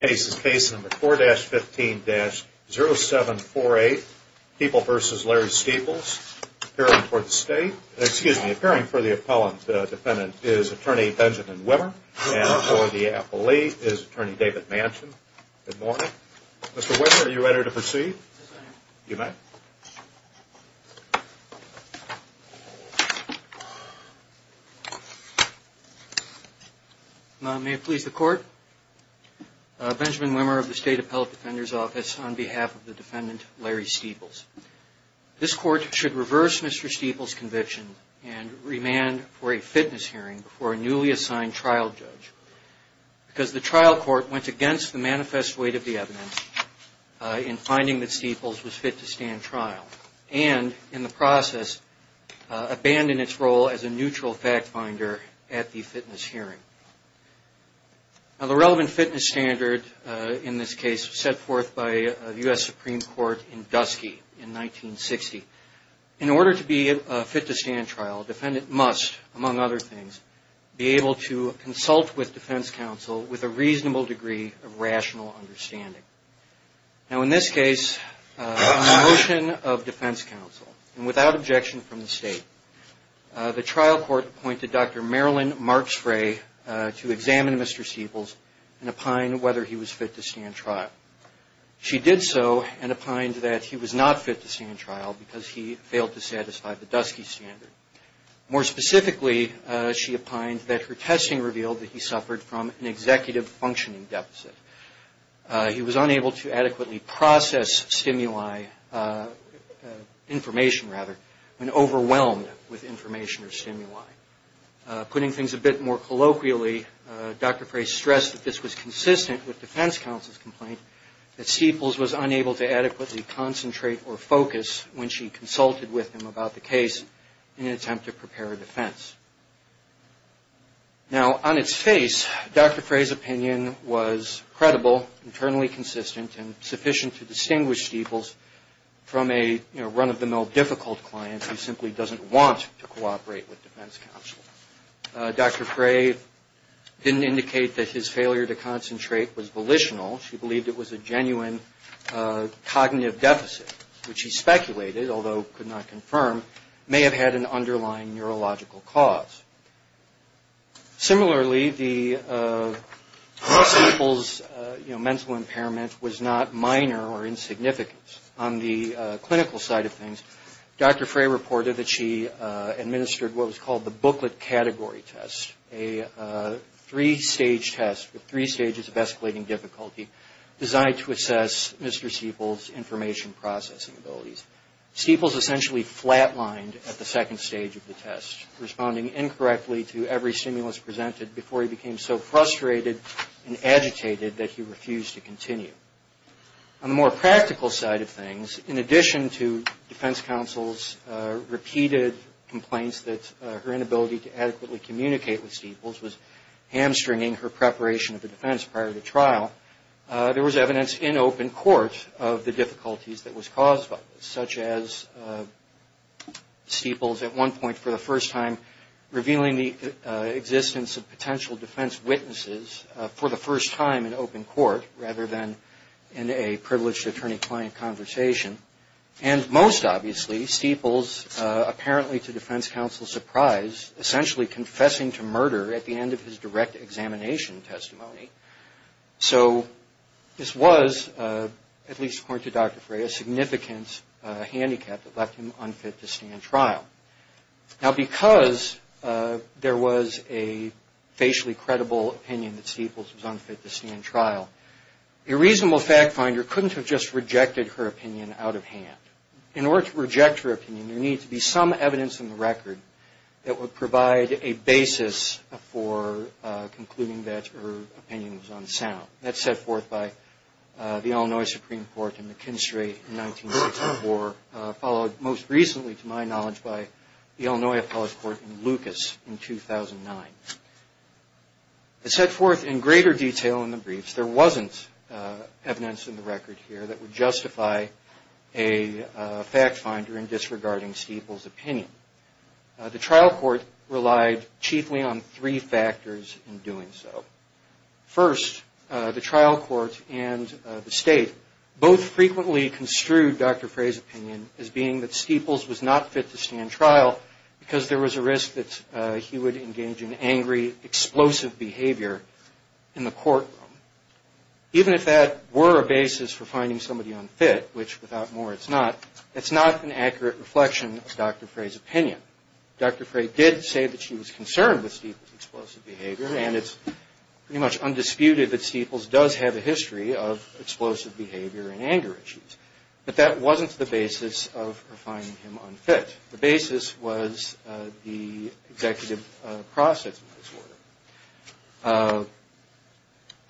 cases. Case number 4-15-0748. People versus Larry Staples. Appearing for the state. Excuse me. Appearing for the appellant defendant is attorney Benjamin Wimmer and for the appellee is attorney David Manchin. Good morning. Mr. Wimmer, are you ready to proceed? Yes, I am. You may. May it please the court. Benjamin Wimmer of the State Appellate Defender's Office on behalf of the defendant, Larry Staples. This court should reverse Mr. Staples' conviction and remand for a fitness hearing for a newly assigned trial judge because the trial court went against the manifest weight of the evidence in finding that Staples was fit to stand trial. And, in the process, abandoned its role as a neutral fact finder at the fitness hearing. Now, the relevant fitness standard in this case was set forth by the U.S. Supreme Court in Dusky in 1960. In order to be fit to stand trial, a defendant must, among other things, be able to consult with defense counsel with a reasonable degree of rational understanding. Now, in this case, on a motion of defense counsel, and without objection from the state, the trial court appointed Dr. Marilyn Marks Frey to examine Mr. Staples and opine whether he was fit to stand trial. She did so and opined that he was not fit to stand trial because he failed to satisfy the Dusky standard. More specifically, she opined that her testing revealed that he suffered from an executive functioning deficit. He was unable to adequately process stimuli, information rather, and overwhelmed with information or stimuli. Putting things a bit more colloquially, Dr. Frey stressed that this was consistent with defense counsel's complaint that Staples was unable to adequately concentrate or focus when she consulted with him about the case in an attempt to prepare a defense. Now, on its face, Dr. Frey's opinion was credible, internally consistent, and sufficient to distinguish Staples from a run-of-the-mill difficult client who simply doesn't want to cooperate with defense counsel. Dr. Frey didn't indicate that his failure to concentrate was volitional. She believed it was a genuine cognitive deficit, which he speculated, although could not confirm, may have had an underlying neurological cause. Similarly, Staples' mental impairment was not minor or insignificant. On the clinical side of things, Dr. Frey reported that she administered what was called the booklet category test, a three-stage test with three stages of escalating difficulty designed to assess Mr. Staples' information processing abilities. Staples essentially flat-lined at the second stage of the test, responding incorrectly to every stimulus presented before he became so frustrated and agitated that he refused to continue. On the more practical side of things, in addition to defense counsel's repeated complaints that her inability to adequately communicate with Staples was hamstringing her preparation of the defense prior to trial, there was evidence in open court of the difficulties that was caused by this. Such as Staples at one point for the first time revealing the existence of potential defense witnesses for the first time in open court rather than in a privileged attorney-client conversation. And most obviously, Staples, apparently to defense counsel's surprise, essentially confessing to murder at the end of his direct examination testimony. So this was, at least according to Dr. Frey, a significant handicap that left him unfit to stand trial. Now, because there was a facially credible opinion that Staples was unfit to stand trial, a reasonable fact finder couldn't have just rejected her opinion out of hand. In order to reject her opinion, there needs to be some evidence in the record that would provide a basis for concluding that opinion. That's set forth by the Illinois Supreme Court in McKinstry in 1984, followed most recently to my knowledge by the Illinois Appellate Court in Lucas in 2009. It's set forth in greater detail in the briefs. There wasn't evidence in the record here that would justify a fact finder in disregarding Staples' opinion. The trial court relied chiefly on three factors in doing so. First, the trial court and the state both frequently construed Dr. Frey's opinion as being that Staples was not fit to stand trial because there was a risk that he would engage in angry, explosive behavior in the courtroom. Dr. Frey did say that she was concerned with Staples' explosive behavior, and it's pretty much undisputed that Staples does have a history of explosive behavior and anger issues. But that wasn't the basis of her finding him unfit. The basis was the executive process, in this order.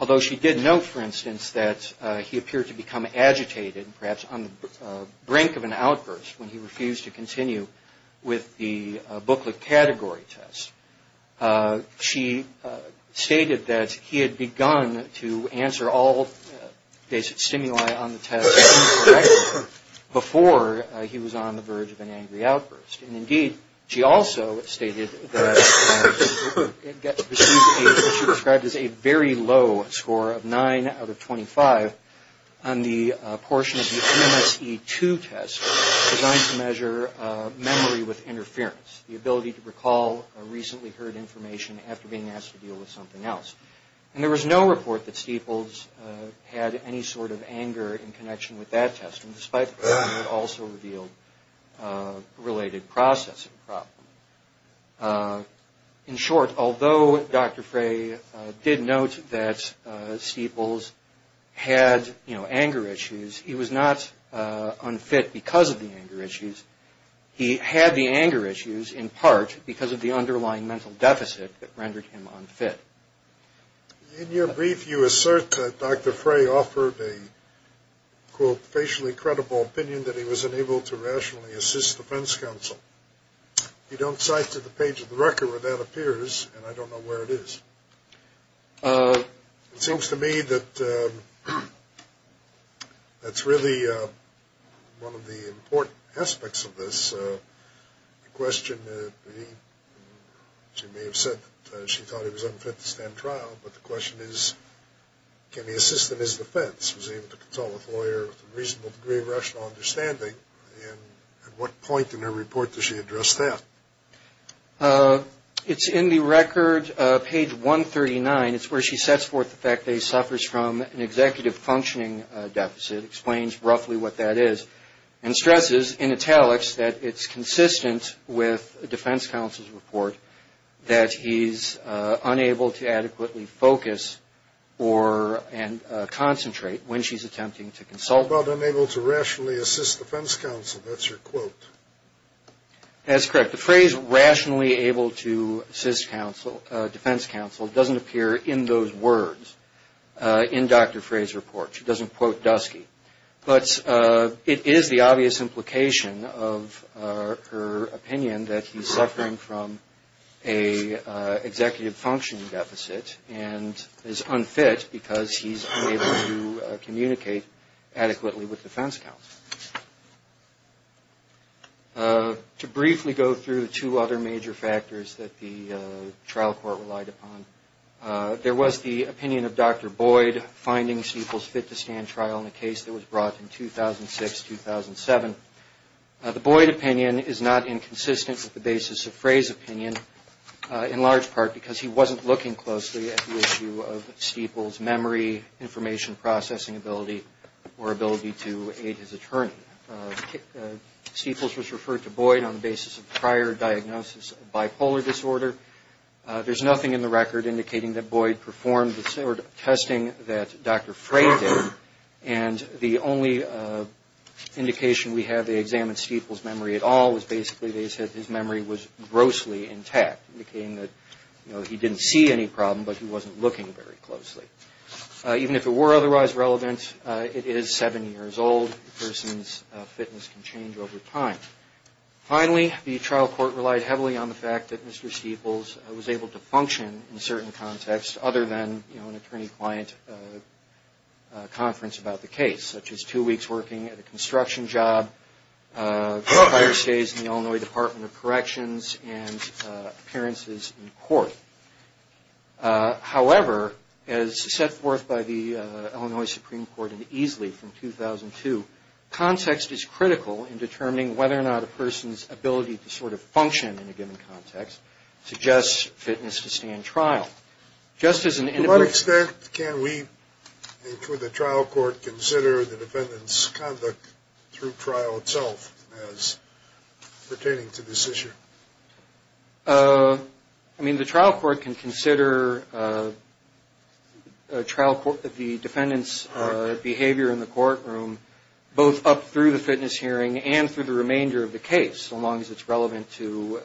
Although she did note, for instance, that he appeared to become agitated, perhaps on the brink of an outburst when he refused to continue with the booklet category test, she stated that he had begun to answer all days of stimuli on the test before he was on the verge of an angry outburst. And indeed, she also stated that she received what she described as a very low score of 9 out of 25 on the portion of the MSE2 test designed to measure memory with interference, the ability to recall recently heard information after being asked to deal with something else. And there was no report that Staples had any sort of anger in connection with that test, despite the fact that it also revealed a related processing problem. In short, although Dr. Frey did note that Staples had anger issues, he was not unfit because of the anger issues. He had the anger issues in part because of the underlying mental deficit that rendered him unfit. In your brief, you assert that Dr. Frey offered a, quote, facially credible opinion that he was unable to rationally assist the defense counsel. You don't cite to the page of the record where that appears, and I don't know where it is. It seems to me that that's really one of the important aspects of this question. She may have said that she thought he was unfit to stand trial, but the question is, can he assist in his defense? Was he able to consult with a lawyer with a reasonable degree of rational understanding? And at what point in her report does she address that? It's in the record, page 139. It's where she sets forth the fact that he suffers from an executive functioning deficit, explains roughly what that is, and stresses in italics that it's consistent with the defense counsel's report that he's unable to adequately focus or concentrate when she's attempting to consult. How about unable to rationally assist the defense counsel? That's her quote. To briefly go through the two other major factors that the trial court relied upon, there was the opinion of Dr. Boyd finding Steeples fit to stand trial in a case that was brought in 2006-2007. The Boyd opinion is not inconsistent with the basis of Frey's opinion, in large part because he wasn't looking closely at the issue of Steeples' memory, information processing ability, or ability to aid his attorney. Steeples was referred to Boyd on the basis of prior diagnosis of bipolar disorder. There's nothing in the record indicating that Boyd performed the sort of testing that Dr. Frey did, and the only indication we have they examined Steeples' memory at all was basically they said his memory was grossly intact, indicating that he didn't see any problem, but he wasn't looking very closely. Even if it were otherwise relevant, it is seven years old. A person's fitness can change over time. Finally, the trial court relied heavily on the fact that Mr. Steeples was able to function in certain contexts other than an attorney-client conference about the case, such as two weeks working at a construction job, five days in the Illinois Department of Corrections, and appearances in court. However, as set forth by the Illinois Supreme Court in Easley from 2002, context is critical in determining whether or not a person's ability to sort of function in a given context suggests fitness to stay in trial. To what extent can we, including the trial court, consider the defendant's conduct through trial itself as pertaining to this issue? I mean, the trial court can consider the defendant's behavior in the courtroom both up through the fitness hearing and through the remainder of the case, so long as it's relevant to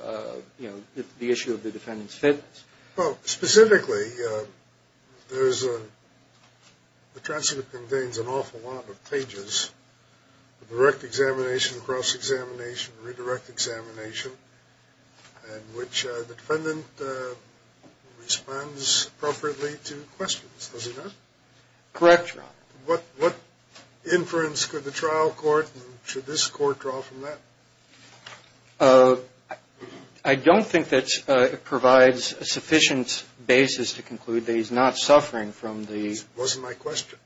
the issue of the defendant's fitness. Well, specifically, the transcript contains an awful lot of pages, direct examination, cross-examination, redirect examination, in which the defendant responds appropriately to questions, does he not? Correct, Your Honor. What inference could the trial court and should this court draw from that? I don't think that it provides a sufficient basis to conclude that he's not suffering from the... It wasn't my question.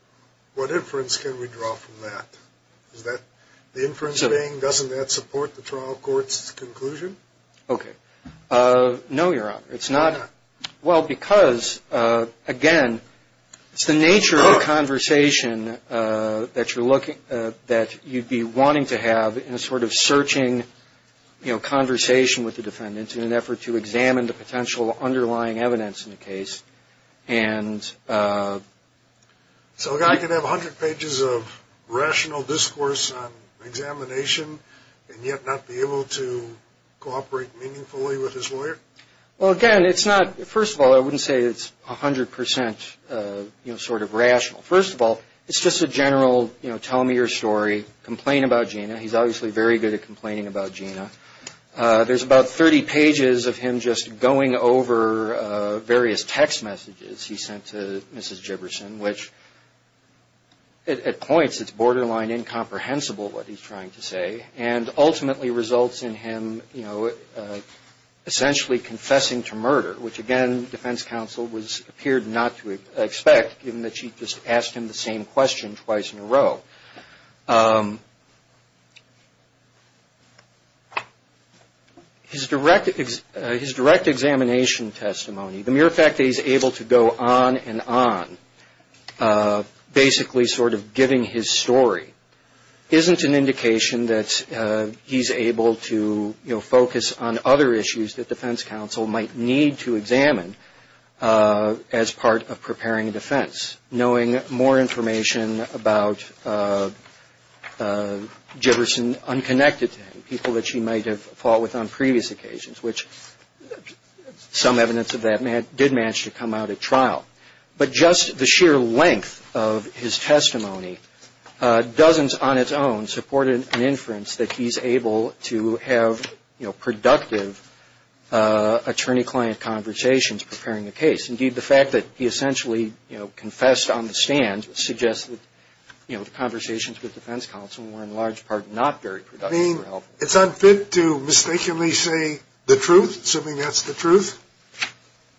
What inference can we draw from that? The inference being, doesn't that support the trial court's conclusion? Okay. No, Your Honor. It's not... Why not? Well, because, again, it's the nature of the conversation that you'd be wanting to have in a sort of searching conversation with the defendant in an effort to examine the potential underlying evidence in the case. So a guy can have 100 pages of rational discourse on examination and yet not be able to cooperate meaningfully with his lawyer? Well, again, it's not... First of all, I wouldn't say it's 100% sort of rational. First of all, it's just a general, you know, tell me your story, complain about Gina. He's obviously very good at complaining about Gina. There's about 30 pages of him just going over various text messages he sent to Mrs. Jibberson, which, at points, it's borderline incomprehensible what he's trying to say and ultimately results in him, you know, essentially confessing to murder, which, again, defense counsel appeared not to expect given that she just asked him the same question twice in a row. His direct examination testimony, the mere fact that he's able to go on and on, basically sort of giving his story, isn't an indication that he's able to, you know, focus on other issues that defense counsel might need to examine as part of preparing a defense. Knowing more information about Jibberson unconnected to him, people that she might have fought with on previous occasions, which some evidence of that did manage to come out at trial. But just the sheer length of his testimony, dozens on its own, supported an inference that he's able to have, you know, productive attorney-client conversations preparing a case. Indeed, the fact that he essentially, you know, confessed on the stand suggests that, you know, the conversations with defense counsel were in large part not very productive. I mean, it's unfit to mistakenly say the truth, assuming that's the truth?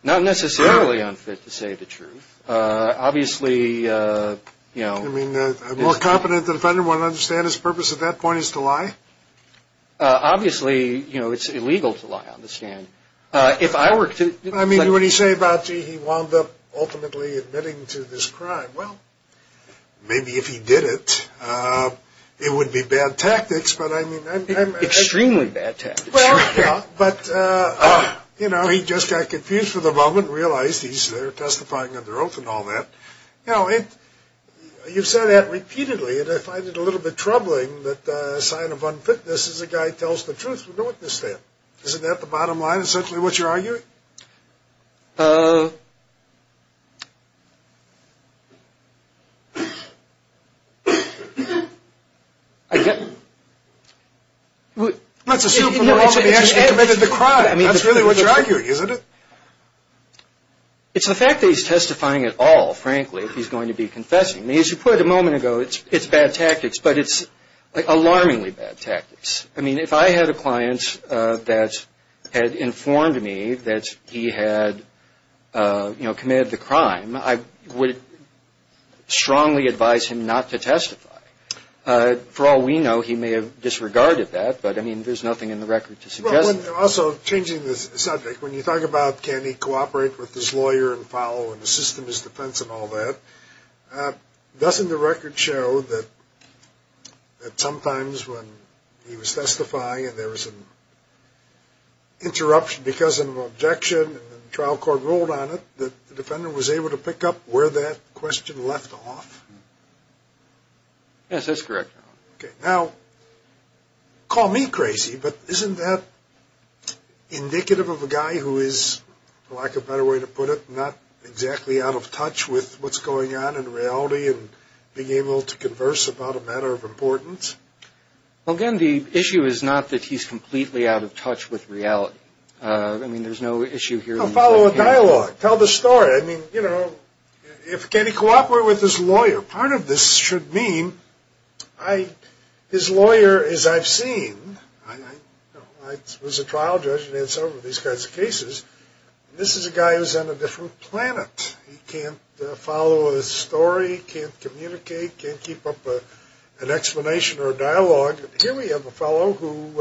Not necessarily unfit to say the truth. Obviously, you know. I mean, a more competent defendant wouldn't understand his purpose at that point is to lie? Obviously, you know, it's illegal to lie on the stand. I mean, what do you say about, gee, he wound up ultimately admitting to this crime? Well, maybe if he did it, it would be bad tactics, but I mean. Extremely bad tactics. But, you know, he just got confused for the moment and realized he's there testifying under oath and all that. You know, you've said that repeatedly, and I find it a little bit troubling that a sign of unfitness is a guy tells the truth from the witness stand. Isn't that the bottom line, essentially what you're arguing? Let's assume he actually committed the crime. That's really what you're arguing, isn't it? It's the fact that he's testifying at all, frankly, that he's going to be confessing. I mean, as you put it a moment ago, it's bad tactics, but it's alarmingly bad tactics. I mean, if I had a client that had informed me that he had, you know, committed the crime, I would strongly advise him not to testify. For all we know, he may have disregarded that, but, I mean, there's nothing in the record to suggest that. Also, changing the subject, when you talk about can he cooperate with his lawyer and follow in the systemist defense and all that, doesn't the record show that sometimes when he was testifying and there was an interruption because of an objection and the trial court ruled on it, that the defendant was able to pick up where that question left off? Yes, that's correct. Okay, now, call me crazy, but isn't that indicative of a guy who is, for lack of a better way to put it, not exactly out of touch with what's going on in reality and being able to converse about a matter of importance? Well, again, the issue is not that he's completely out of touch with reality. I mean, there's no issue here. Well, follow a dialogue. Tell the story. I mean, you know, can he cooperate with his lawyer? Part of this should mean his lawyer, as I've seen, I was a trial judge and had several of these kinds of cases. This is a guy who's on a different planet. He can't follow a story, can't communicate, can't keep up an explanation or a dialogue. Here we have a fellow who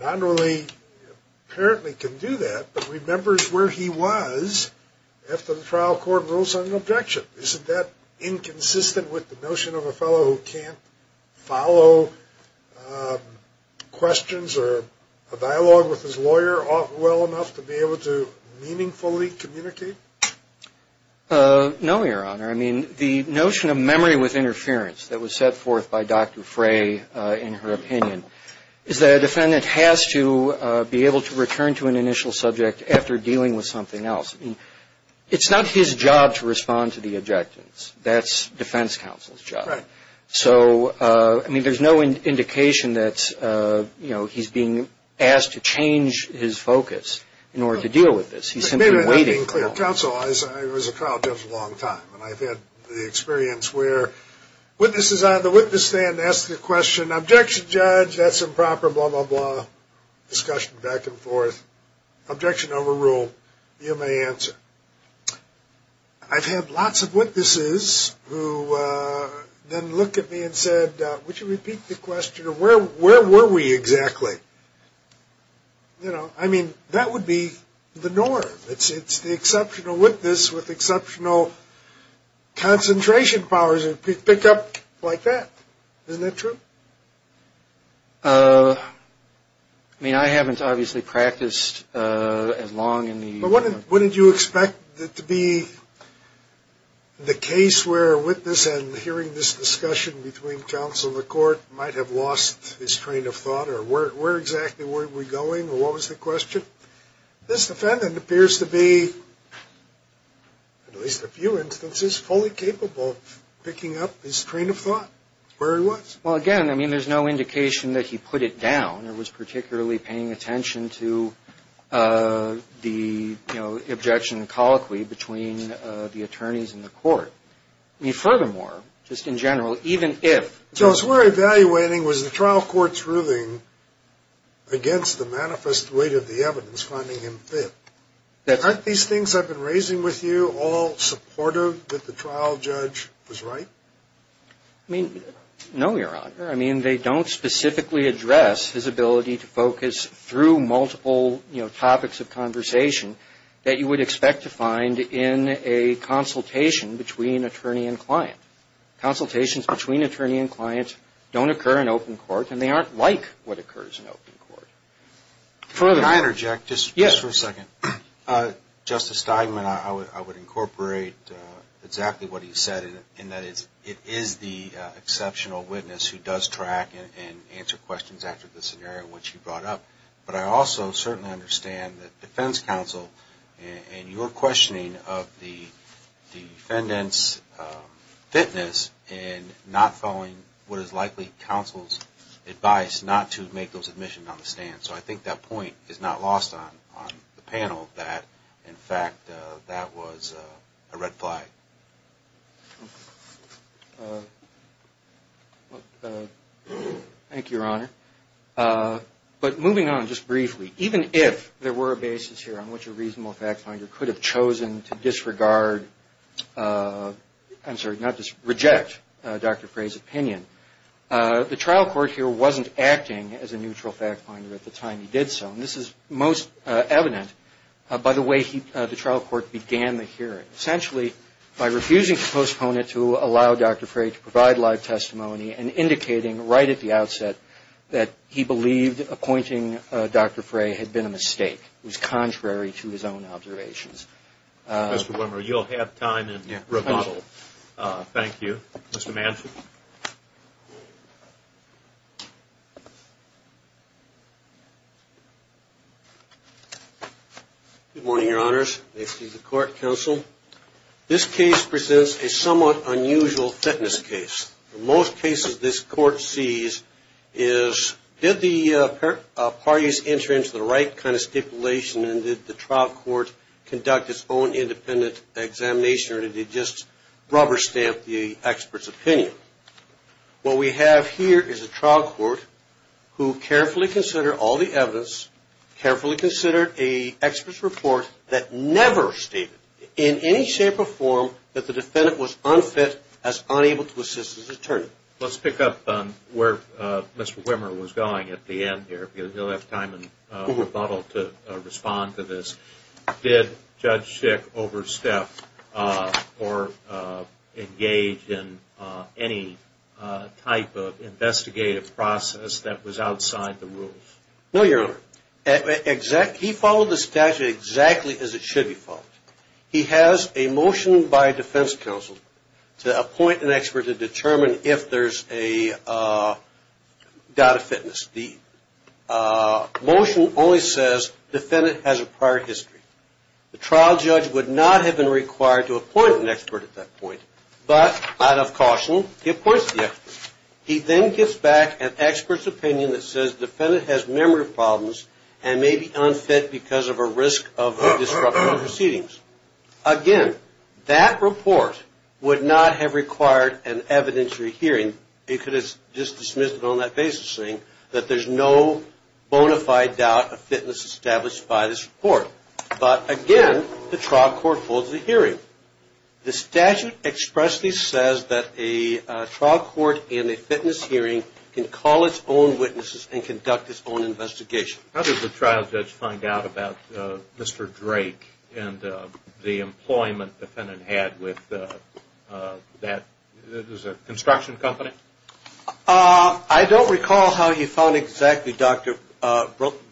not only apparently can do that but remembers where he was after the trial court rules on an objection. Isn't that inconsistent with the notion of a fellow who can't follow questions or a dialogue with his lawyer well enough to be able to meaningfully communicate? No, Your Honor. I mean, the notion of memory with interference that was set forth by Dr. Frey, in her opinion, is that a defendant has to be able to return to an initial subject after dealing with something else. It's not his job to respond to the objections. That's defense counsel's job. Right. So, I mean, there's no indication that, you know, he's being asked to change his focus in order to deal with this. He's simply waiting. Being clear of counsel, I was a trial judge a long time, and I've had the experience where witnesses on the witness stand ask a question, objection, judge, that's improper, blah, blah, blah, discussion back and forth. Objection overrule. You may answer. I've had lots of witnesses who then look at me and said, would you repeat the question? Where were we exactly? You know, I mean, that would be the norm. It's the exceptional witness with exceptional concentration powers who could pick up like that. Isn't that true? I mean, I haven't obviously practiced as long in the. But wouldn't you expect it to be the case where a witness, and hearing this discussion between counsel and the court, might have lost his train of thought or where exactly were we going or what was the question? This defendant appears to be, at least a few instances, fully capable of picking up his train of thought, where he was. Well, again, I mean, there's no indication that he put it down or was particularly paying attention to the, you know, objection colloquy between the attorneys and the court. I mean, furthermore, just in general, even if. So as we're evaluating, was the trial court's ruling against the manifest weight of the evidence finding him fit? Aren't these things I've been raising with you all supportive that the trial judge was right? I mean, no, Your Honor. I mean, they don't specifically address his ability to focus through multiple, you know, topics of conversation that you would expect to find in a consultation between attorney and client. Consultations between attorney and client don't occur in open court, and they aren't like what occurs in open court. Can I interject just for a second? Yes. Justice Steigman, I would incorporate exactly what he said, in that it is the exceptional witness who does track and answer questions after the scenario which he brought up. But I also certainly understand that defense counsel and your questioning of the defendant's fitness and not following what is likely counsel's advice not to make those admissions on the stand. So I think that point is not lost on the panel that, in fact, that was a red flag. Thank you, Your Honor. But moving on just briefly, even if there were a basis here on which a reasonable fact finder could have chosen to disregard, I'm sorry, not disregard, reject Dr. Frey's opinion, the trial court here wasn't acting as a neutral fact finder at the time he did so. And this is most evident by the way the trial court began the hearing. Essentially, by refusing to postpone it to allow Dr. Frey to provide live testimony and indicating right at the outset that he believed appointing Dr. Frey had been a mistake. It was contrary to his own observations. Mr. Wimmer, you'll have time in rebuttal. Thank you. Mr. Manson? Good morning, Your Honors. May it please the court, counsel. This case presents a somewhat unusual fitness case. In most cases this court sees is did the parties enter into the right kind of stipulation and did the trial court conduct its own independent examination or did it just rubber stamp the expert's opinion? What we have here is a trial court who carefully considered all the evidence, carefully considered an expert's report that never stated in any shape or form that the defendant was unfit as unable to assist his attorney. Let's pick up where Mr. Wimmer was going at the end here. You'll have time in rebuttal to respond to this. Did Judge Schick overstep or engage in any type of investigative process that was outside the rules? No, Your Honor. He followed the statute exactly as it should be followed. He has a motion by defense counsel to appoint an expert to determine if there's a doubt of fitness. The motion only says defendant has a prior history. The trial judge would not have been required to appoint an expert at that point, but out of caution he appoints the expert. He then gives back an expert's opinion that says defendant has memory problems and may be unfit because of a risk of disrupting proceedings. Again, that report would not have required an evidentiary hearing. It could have just dismissed it on that basis saying that there's no bona fide doubt of fitness established by this report. But again, the trial court holds the hearing. The statute expressly says that a trial court in a fitness hearing can call its own witnesses and conduct its own investigation. How does the trial judge find out about Mr. Drake and the employment defendant had with that construction company? I don't recall how he found exactly Dr.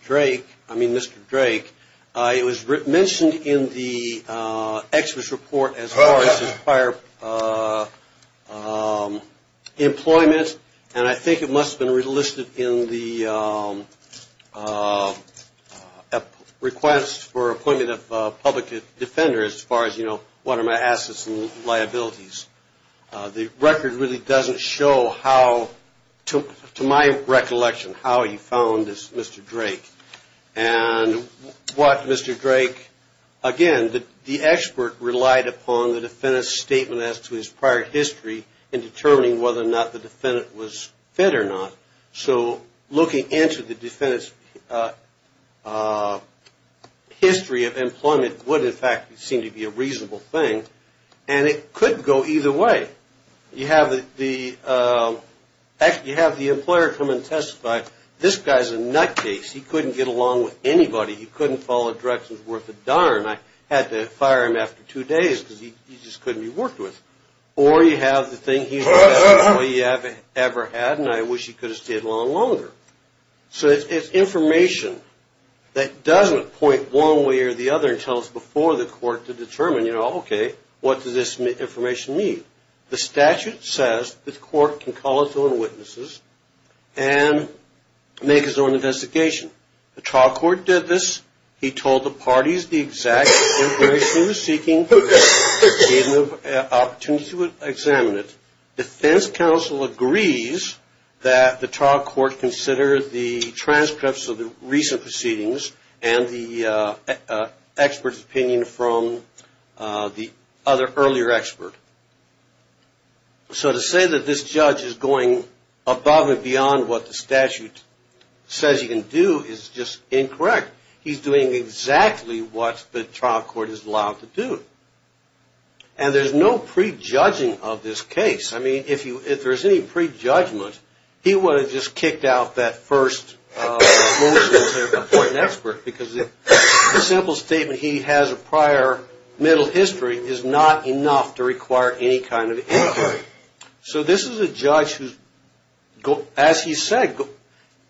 Drake, I mean Mr. Drake. It was mentioned in the expert's report as far as his prior employment, and I think it must have been listed in the request for appointment of public defender as far as, you know, what are my assets and liabilities. The record really doesn't show how, to my recollection, how he found Mr. Drake. And what Mr. Drake, again, the expert relied upon the defendant's statement as to his prior history in determining whether or not the defendant was fit or not. So looking into the defendant's history of employment would, in fact, seem to be a reasonable thing. And it could go either way. You have the employer come and testify, this guy's a nutcase. He couldn't get along with anybody. He couldn't follow directions worth a darn. I had to fire him after two days because he just couldn't be worked with. Or you have the thing, he's the best employee I've ever had, and I wish he could have stayed a little longer. So it's information that doesn't point one way or the other and tell us before the court to determine, you know, okay, what does this information mean? The statute says the court can call its own witnesses and make its own investigation. The trial court did this. He told the parties the exact information he was seeking, gave them an opportunity to examine it. Defense counsel agrees that the trial court consider the transcripts of the recent proceedings and the expert's opinion from the other earlier expert. So to say that this judge is going above and beyond what the statute says he can do is just incorrect. He's doing exactly what the trial court is allowed to do. And there's no prejudging of this case. I mean, if there's any prejudgment, he would have just kicked out that first motion to appoint an expert because the simple statement he has a prior mental history is not enough to require any kind of inquiry. So this is a judge who, as he said,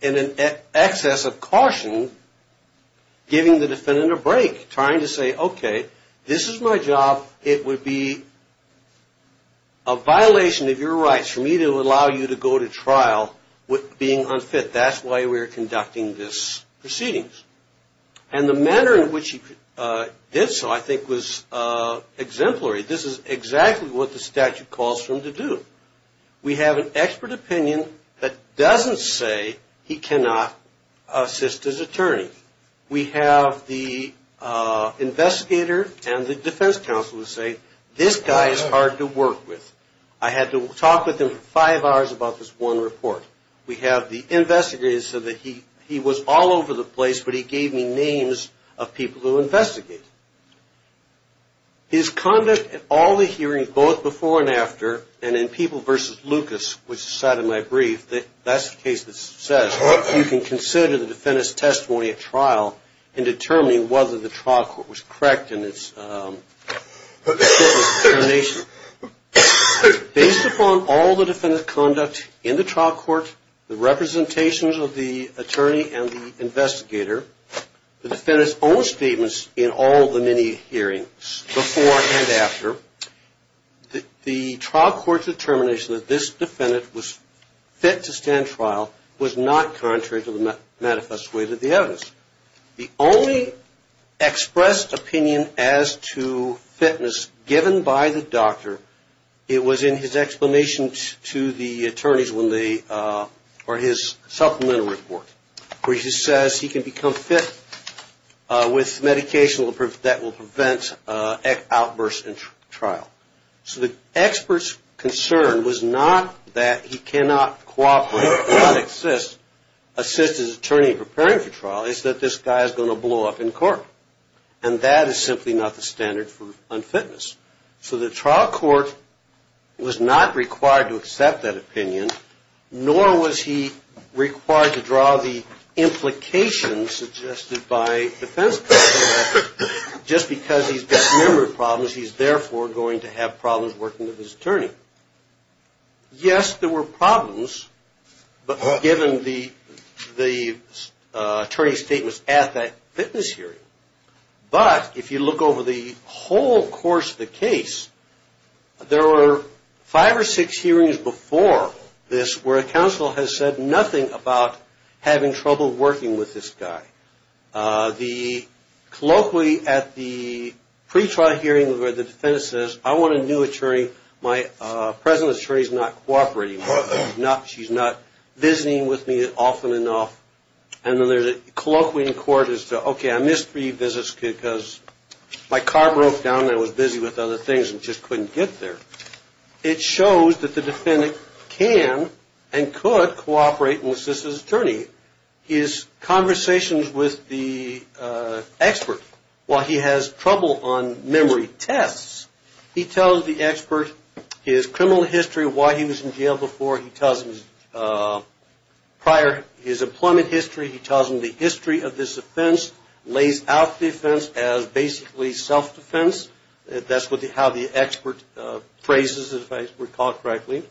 in an excess of caution, giving the defendant a break, trying to say, okay, this is my job. It would be a violation of your rights for me to allow you to go to trial with being unfit. That's why we're conducting this proceedings. And the manner in which he did so I think was exemplary. This is exactly what the statute calls for him to do. We have an expert opinion that doesn't say he cannot assist his attorney. We have the investigator and the defense counsel who say, this guy is hard to work with. I had to talk with him for five hours about this one report. We have the investigator who said that he was all over the place, but he gave me names of people who investigated. His conduct at all the hearings, both before and after, and in People v. Lucas, which is the side of my brief, that's the case that says you can consider the defendant's testimony at trial in determining whether the trial court was correct in its fitness determination. Based upon all the defendant's conduct in the trial court, the representations of the attorney and the investigator, the defendant's own statements in all the many hearings before and after, the trial court's determination that this defendant was fit to stand trial was not contrary to the manifest way that the evidence. The only expressed opinion as to fitness given by the doctor, it was in his explanation to the attorneys when they, or his supplemental report, where he says he can become fit with medication that will prevent outbursts in trial. So the expert's concern was not that he cannot cooperate, assist his attorney in preparing for trial, it's that this guy is going to blow up in court. And that is simply not the standard for unfitness. So the trial court was not required to accept that opinion, nor was he required to draw the implications suggested by defense court, just because he's got a number of problems, he's therefore going to have problems working with his attorney. Yes, there were problems, but given the attorney's statements at that fitness hearing. But if you look over the whole course of the case, there were five or six hearings before this where a counsel has said nothing about having trouble working with this guy. The colloquy at the pre-trial hearing where the defendant says, I want a new attorney, my present attorney's not cooperating with me, she's not visiting with me often enough. And then there's a colloquy in court as to, okay, I missed three visits because my car broke down and I was busy with other things and just couldn't get there. It shows that the defendant can and could cooperate and assist his attorney. His conversations with the expert, while he has trouble on memory tests, he tells the expert his criminal history, why he was in jail before, he tells him prior his employment history, he tells him the history of this offense, lays out the offense as basically self-defense. That's how the expert phrases it, if I recall correctly.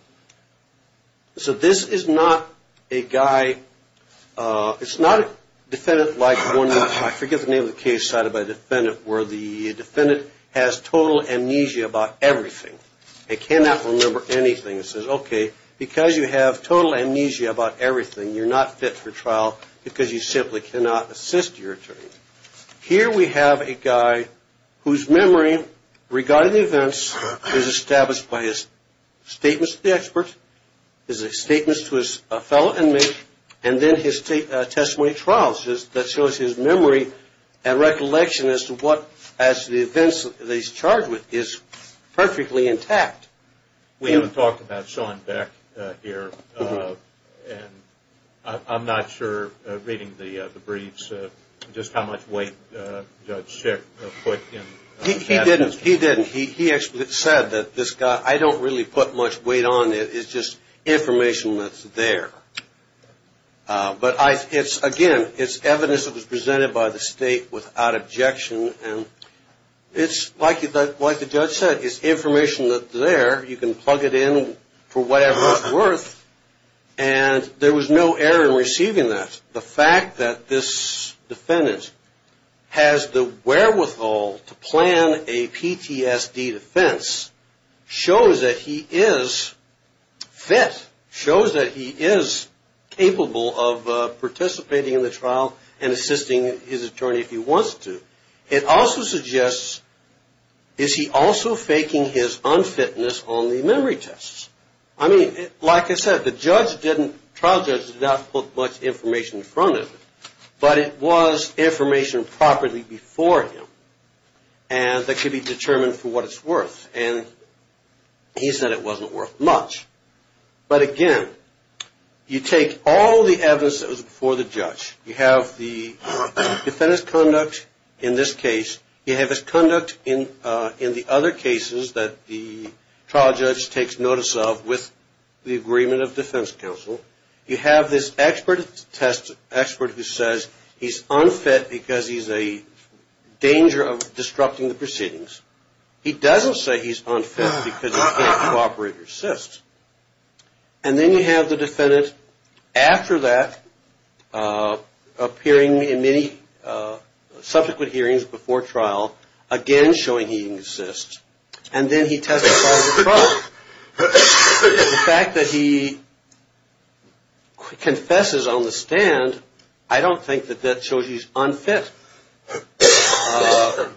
So this is not a guy, it's not a defendant like, I forget the name of the case cited by the defendant, where the defendant has total amnesia about everything. They cannot remember anything. Okay, because you have total amnesia about everything, you're not fit for trial because you simply cannot assist your attorney. Here we have a guy whose memory regarding the events is established by his statements to the expert, his statements to his fellow inmate, and then his testimony trials that shows his memory and recollection as to what, as to the events that he's charged with is perfectly intact. We haven't talked about Sean Beck here. I'm not sure, reading the briefs, just how much weight Judge Schick put in that. He didn't. He actually said that this guy, I don't really put much weight on it, it's just information that's there. But again, it's evidence that was presented by the state without objection. It's like the judge said, it's information that's there, you can plug it in for whatever it's worth, and there was no error in receiving that. The fact that this defendant has the wherewithal to plan a PTSD defense shows that he is fit, shows that he is capable of participating in the trial and assisting his attorney if he wants to. It also suggests, is he also faking his unfitness on the memory tests? I mean, like I said, the trial judge did not put much information in front of him, but it was information properly before him that could be determined for what it's worth, and he said it wasn't worth much. But again, you take all the evidence that was before the judge. You have the defendant's conduct in this case. You have his conduct in the other cases that the trial judge takes notice of with the agreement of defense counsel. You have this expert who says he's unfit because he's a danger of disrupting the proceedings. He doesn't say he's unfit because he can't cooperate or assist. And then you have the defendant, after that, appearing in many subsequent hearings before trial, again showing he can assist, and then he testifies in the trial. The fact that he confesses on the stand, I don't think that that shows he's unfit.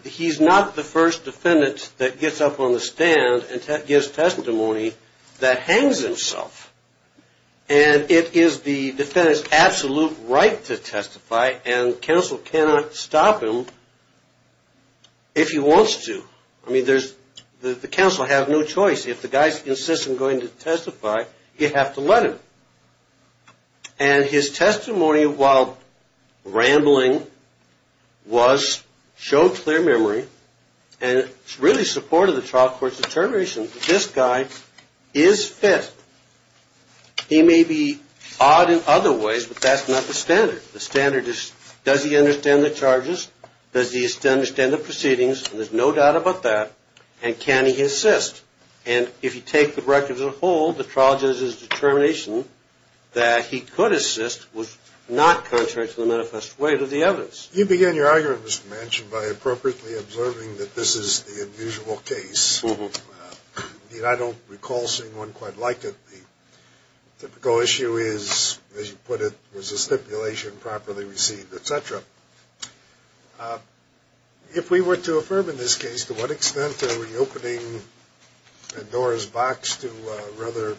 He's not the first defendant that gets up on the stand and gives testimony that hangs himself. And it is the defendant's absolute right to testify, and counsel cannot stop him if he wants to. I mean, the counsel has no choice. If the guy insists on going to testify, you have to let him. And his testimony, while rambling, was shown clear memory, and it's really supported the trial court's determination that this guy is fit. He may be odd in other ways, but that's not the standard. The standard is, does he understand the charges? Does he understand the proceedings? There's no doubt about that. And can he assist? And if you take the record as a whole, the trial judge's determination that he could assist was not contrary to the manifest weight of the evidence. You began your argument, Mr. Manchin, by appropriately observing that this is the unusual case. I don't recall seeing one quite like it. The typical issue is, as you put it, was the stipulation properly received, et cetera. If we were to affirm in this case, to what extent are we opening a door's box to a rather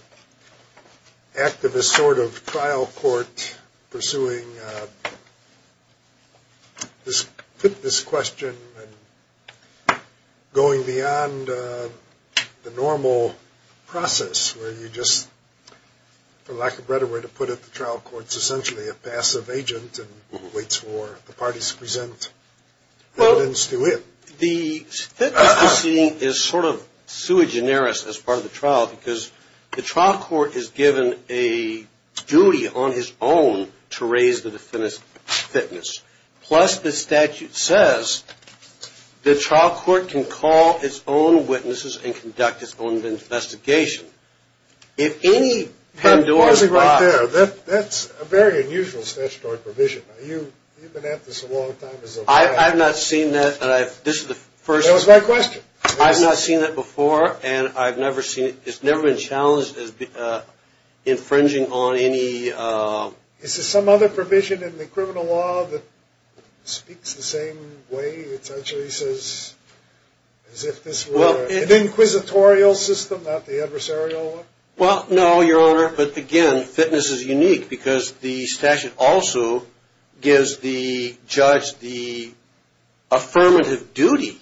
activist sort of trial court pursuing this question and going beyond the normal process where you just, for lack of a better way to put it, the trial court's essentially a passive agent and waits for the parties to present evidence to it. Well, the fitness proceeding is sort of sui generis as part of the trial because the trial court is given a duty on his own to raise the defendant's fitness. Plus, the statute says the trial court can call its own witnesses and conduct its own investigation. If any pandora's box. That's a very unusual statutory provision. You've been at this a long time. I've not seen that. That was my question. I've not seen that before, and I've never seen it. It's never been challenged as infringing on any. Is there some other provision in the criminal law that speaks the same way? It essentially says as if this were an inquisitorial system, not the adversarial one? Well, no, Your Honor, but, again, fitness is unique because the statute also gives the judge the affirmative duty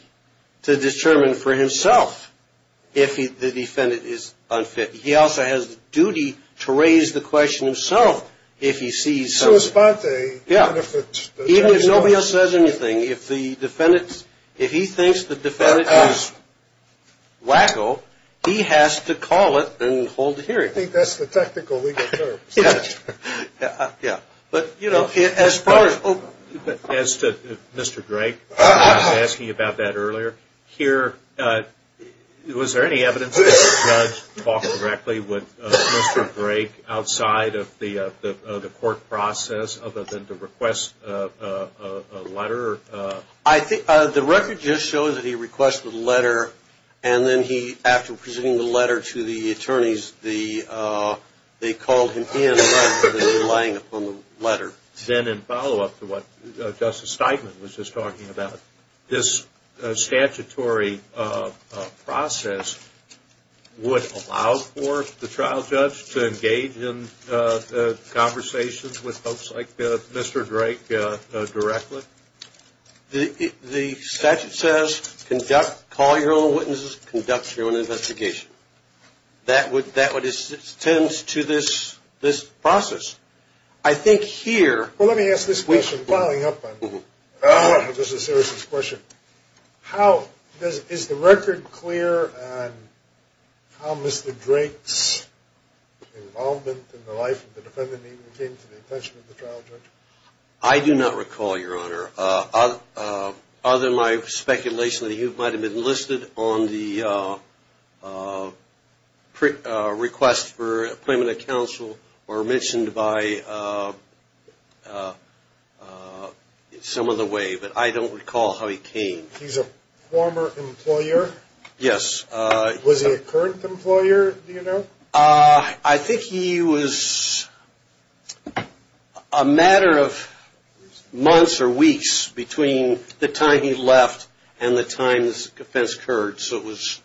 to determine for himself if the defendant is unfit. He also has the duty to raise the question himself if he sees something. Sui sponte. Even if nobody else says anything, if he thinks the defendant is wacko, he has to call it and hold the hearing. I think that's the technical legal term. Yeah. But, you know, as far as Mr. Drake was asking about that earlier, here, was there any evidence that the judge talked directly with Mr. Drake outside of the court process, other than to request a letter? I think the record just shows that he requested a letter, and then he, after presenting the letter to the attorneys, they called him in, but they were relying upon the letter. Then in follow-up to what Justice Steinman was just talking about, this statutory process would allow for the trial judge to engage in conversations with folks like Mr. Drake directly? The statute says, conduct, call your own witnesses, conduct your own investigation. That tends to this process. Well, let me ask this question, following up on Justice Sears' question. Is the record clear on how Mr. Drake's involvement in the life of the defendant even came to the attention of the trial judge? I do not recall, Your Honor. Other than my speculation that he might have been enlisted on the request for appointment of counsel, or mentioned by some other way, but I don't recall how he came. He's a former employer? Yes. Was he a current employer, do you know? I think he was a matter of months or weeks between the time he left and the time this offense occurred, so it was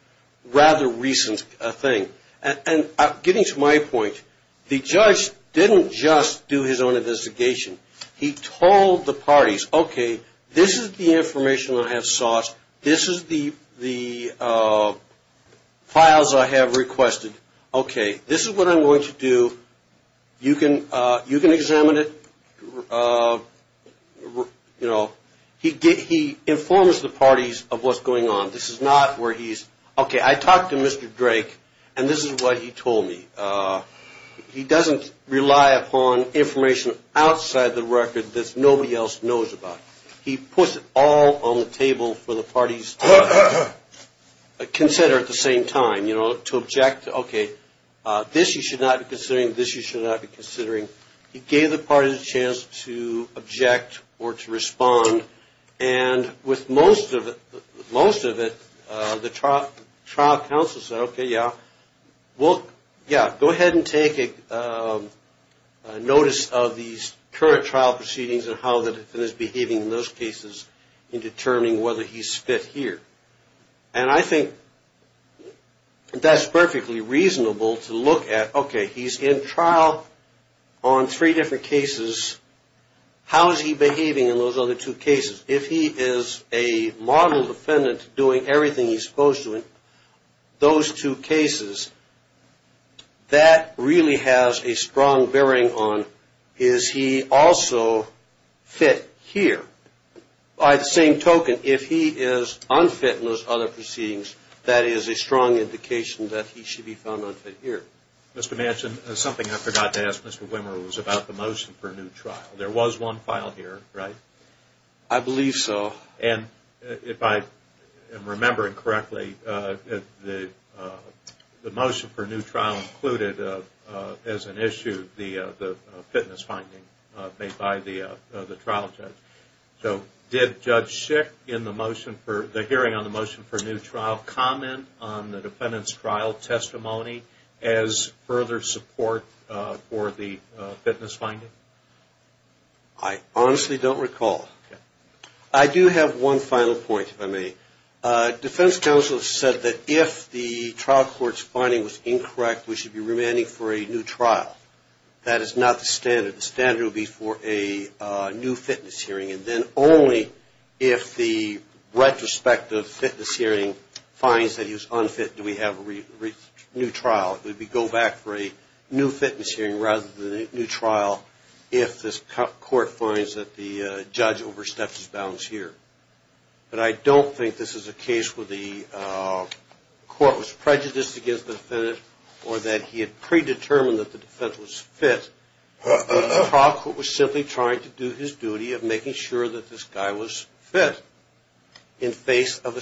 a rather recent thing. And getting to my point, the judge didn't just do his own investigation. He told the parties, okay, this is the information I have sourced. This is the files I have requested. Okay, this is what I'm going to do. You can examine it. He informs the parties of what's going on. This is not where he's, okay, I talked to Mr. Drake, and this is what he told me. He doesn't rely upon information outside the record that nobody else knows about. He puts it all on the table for the parties to consider at the same time, you know, to object. Okay, this you should not be considering, this you should not be considering. He gave the parties a chance to object or to respond. And with most of it, most of it, the trial counsel said, okay, yeah, go ahead and take notice of these current trial proceedings and how the defendant is behaving in those cases in determining whether he's fit here. And I think that's perfectly reasonable to look at, okay, he's in trial on three different cases. How is he behaving in those other two cases? If he is a model defendant doing everything he's supposed to in those two cases, that really has a strong bearing on, is he also fit here? By the same token, if he is unfit in those other proceedings, that is a strong indication that he should be found unfit here. Mr. Manchin, something I forgot to ask Mr. Wimmer was about the motion for a new trial. There was one file here, right? I believe so. And if I am remembering correctly, the motion for a new trial included as an issue the fitness finding made by the trial judge. So did Judge Schick in the hearing on the motion for a new trial comment on the defendant's trial testimony as further support for the fitness finding? I honestly don't recall. Okay. I do have one final point, if I may. Defense counsel said that if the trial court's finding was incorrect, we should be remanding for a new trial. That is not the standard. The standard would be for a new fitness hearing, and then only if the retrospective fitness hearing finds that he's unfit do we have a new trial. It would be go back for a new fitness hearing rather than a new trial if this court finds that the judge overstepped his bounds here. But I don't think this is a case where the court was prejudiced against the defendant or that he had predetermined that the defendant was fit. The trial court was simply trying to do his duty of making sure that this guy was fit in face of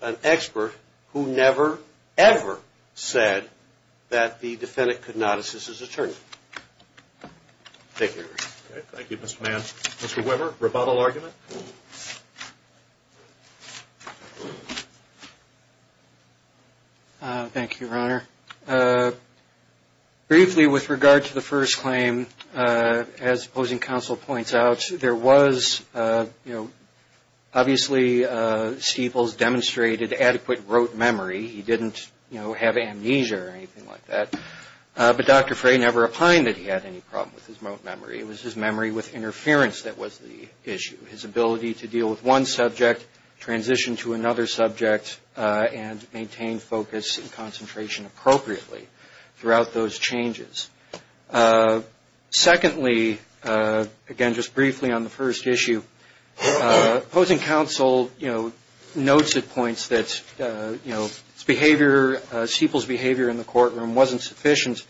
an expert who never, ever said that the defendant could not assist his attorney. Thank you. Thank you, Mr. Mann. Mr. Weber, rebuttal argument? Thank you, Your Honor. Briefly, with regard to the first claim, as opposing counsel points out, there was, you know, obviously Stieples demonstrated adequate rote memory. He didn't, you know, have amnesia or anything like that. But Dr. Frey never opined that he had any problem with his rote memory. It was his memory with interference that was the issue, his ability to deal with one subject, transition to another subject, and maintain focus and concentration appropriately throughout those changes. Secondly, again, just briefly on the first issue, opposing counsel, you know, notes at points that, you know, behavior, Stieples' behavior in the courtroom wasn't sufficient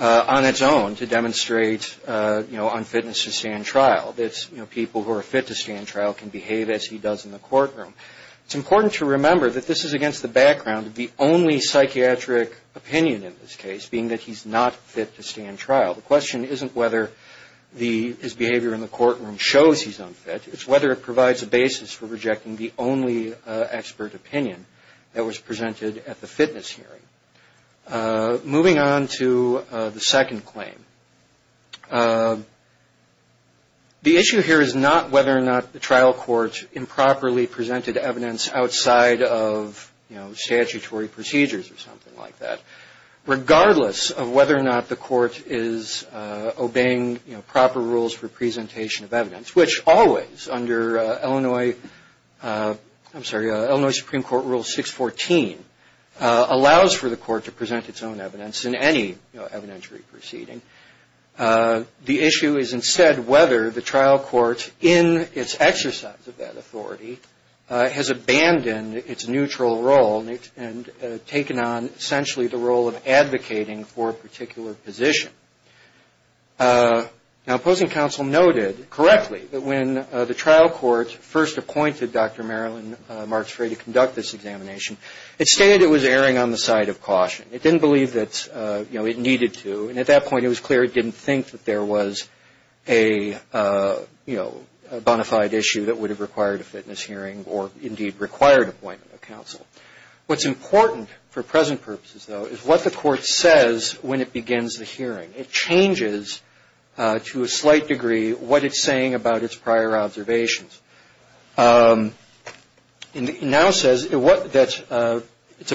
on its own to demonstrate, you know, unfitness to stand trial, that, you know, people who are fit to stand trial can behave as he does in the courtroom. It's important to remember that this is against the background of the only psychiatric opinion in this case, being that he's not fit to stand trial. The question isn't whether his behavior in the courtroom shows he's unfit. It's whether it provides a basis for rejecting the only expert opinion that was presented at the fitness hearing. Moving on to the second claim. The issue here is not whether or not the trial court improperly presented evidence outside of, you know, statutory procedures or something like that. Regardless of whether or not the court is obeying, you know, proper rules for presentation of evidence, which always under Illinois, I'm sorry, Illinois Supreme Court Rule 614, allows for the court to present its own evidence in any, you know, evidentiary proceeding. The issue is instead whether the trial court in its exercise of that authority has abandoned its neutral role and taken on essentially the role of advocating for a particular position. Now, opposing counsel noted correctly that when the trial court first appointed Dr. Marilyn Marks-Frey to conduct this examination, it stated it was erring on the side of caution. It didn't believe that, you know, it needed to. And at that point, it was clear it didn't think that there was a, you know, bonafide issue that would have required a fitness hearing or indeed required appointment of counsel. What's important for present purposes, though, is what the court says when it begins the hearing. It changes to a slight degree what it's saying about its prior observations. It now says that its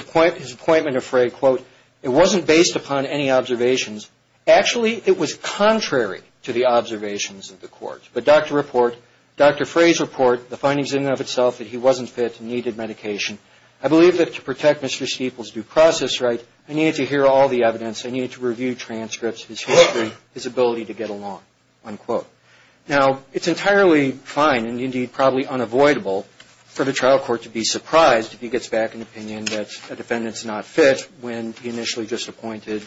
appointment of Frey, quote, it wasn't based upon any observations. Actually, it was contrary to the observations of the court. But Dr. Report, Dr. Frey's report, the findings in and of itself that he wasn't fit and needed medication, I believe that to protect Mr. Steeple's due process right, I needed to hear all the evidence. I needed to review transcripts, his history, his ability to get along, unquote. Now, it's entirely fine and indeed probably unavoidable for the trial court to be surprised if he gets back an opinion that a defendant's not fit when he initially just appointed,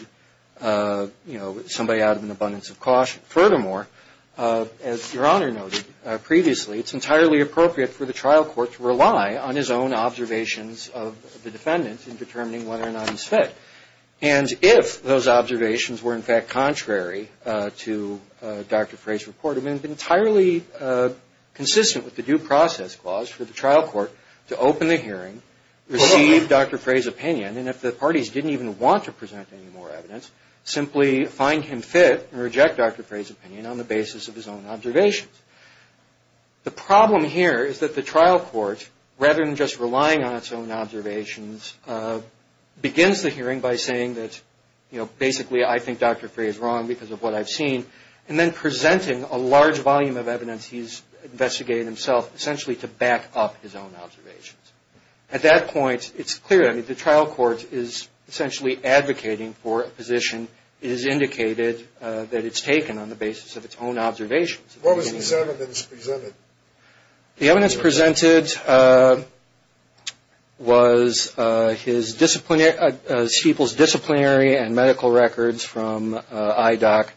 you know, somebody out of an abundance of caution. Furthermore, as Your Honor noted previously, it's entirely appropriate for the trial court to rely on his own observations of the defendant in determining whether or not he's fit. And if those observations were, in fact, contrary to Dr. Frey's report, it would have been entirely consistent with the due process clause for the trial court to open the hearing, receive Dr. Frey's opinion, and if the parties didn't even want to present any more evidence, simply find him fit and reject Dr. Frey's opinion on the basis of his own observations. The problem here is that the trial court, rather than just relying on its own observations, begins the hearing by saying that, you know, basically I think Dr. Frey is wrong because of what I've seen, and then presenting a large volume of evidence he's investigated himself, essentially to back up his own observations. At that point, it's clear. I mean, the trial court is essentially advocating for a position. It is indicated that it's taken on the basis of its own observations. What was the evidence presented? The evidence presented was his disciplinary – Steeple's disciplinary and medical records from IDOC.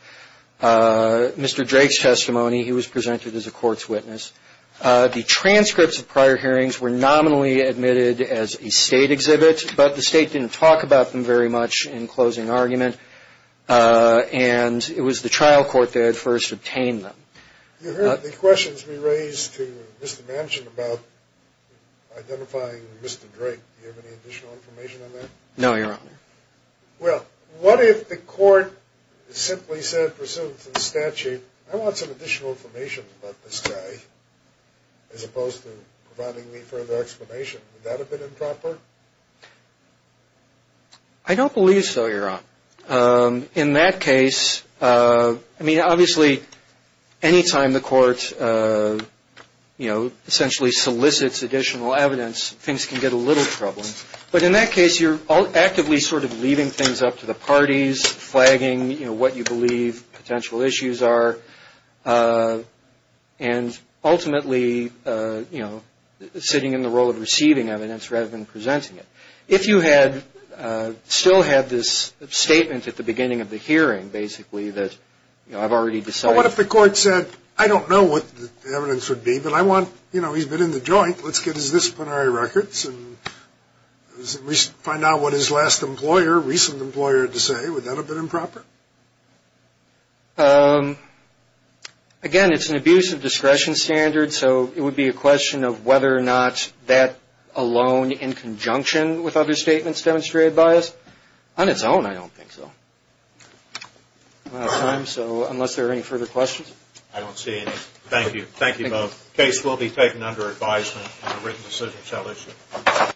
Mr. Drake's testimony, he was presented as a court's witness. The transcripts of prior hearings were nominally admitted as a state exhibit, but the state didn't talk about them very much in closing argument, and it was the trial court that first obtained them. You heard the questions we raised to Mr. Manchin about identifying Mr. Drake. Do you have any additional information on that? No, Your Honor. Well, what if the court simply said pursuant to the statute, I want some additional information about this guy, as opposed to providing me further explanation. Would that have been improper? I don't believe so, Your Honor. In that case, I mean, obviously, any time the court, you know, essentially solicits additional evidence, things can get a little troubling. But in that case, you're actively sort of leaving things up to the parties, flagging, you know, what you believe potential issues are, and ultimately, you know, sitting in the role of receiving evidence rather than presenting it. If you had still had this statement at the beginning of the hearing, basically, that, you know, I've already decided. Well, what if the court said, I don't know what the evidence would be, but I want, you know, he's been in the joint, let's get his disciplinary records and find out what his last employer, recent employer, had to say. Would that have been improper? Again, it's an abuse of discretion standard, so it would be a question of whether or not that alone, in conjunction with other statements demonstrated by us. On its own, I don't think so. We're out of time, so unless there are any further questions. I don't see any. Thank you. Thank you both. The case will be taken under advisement and a written decision shall issue.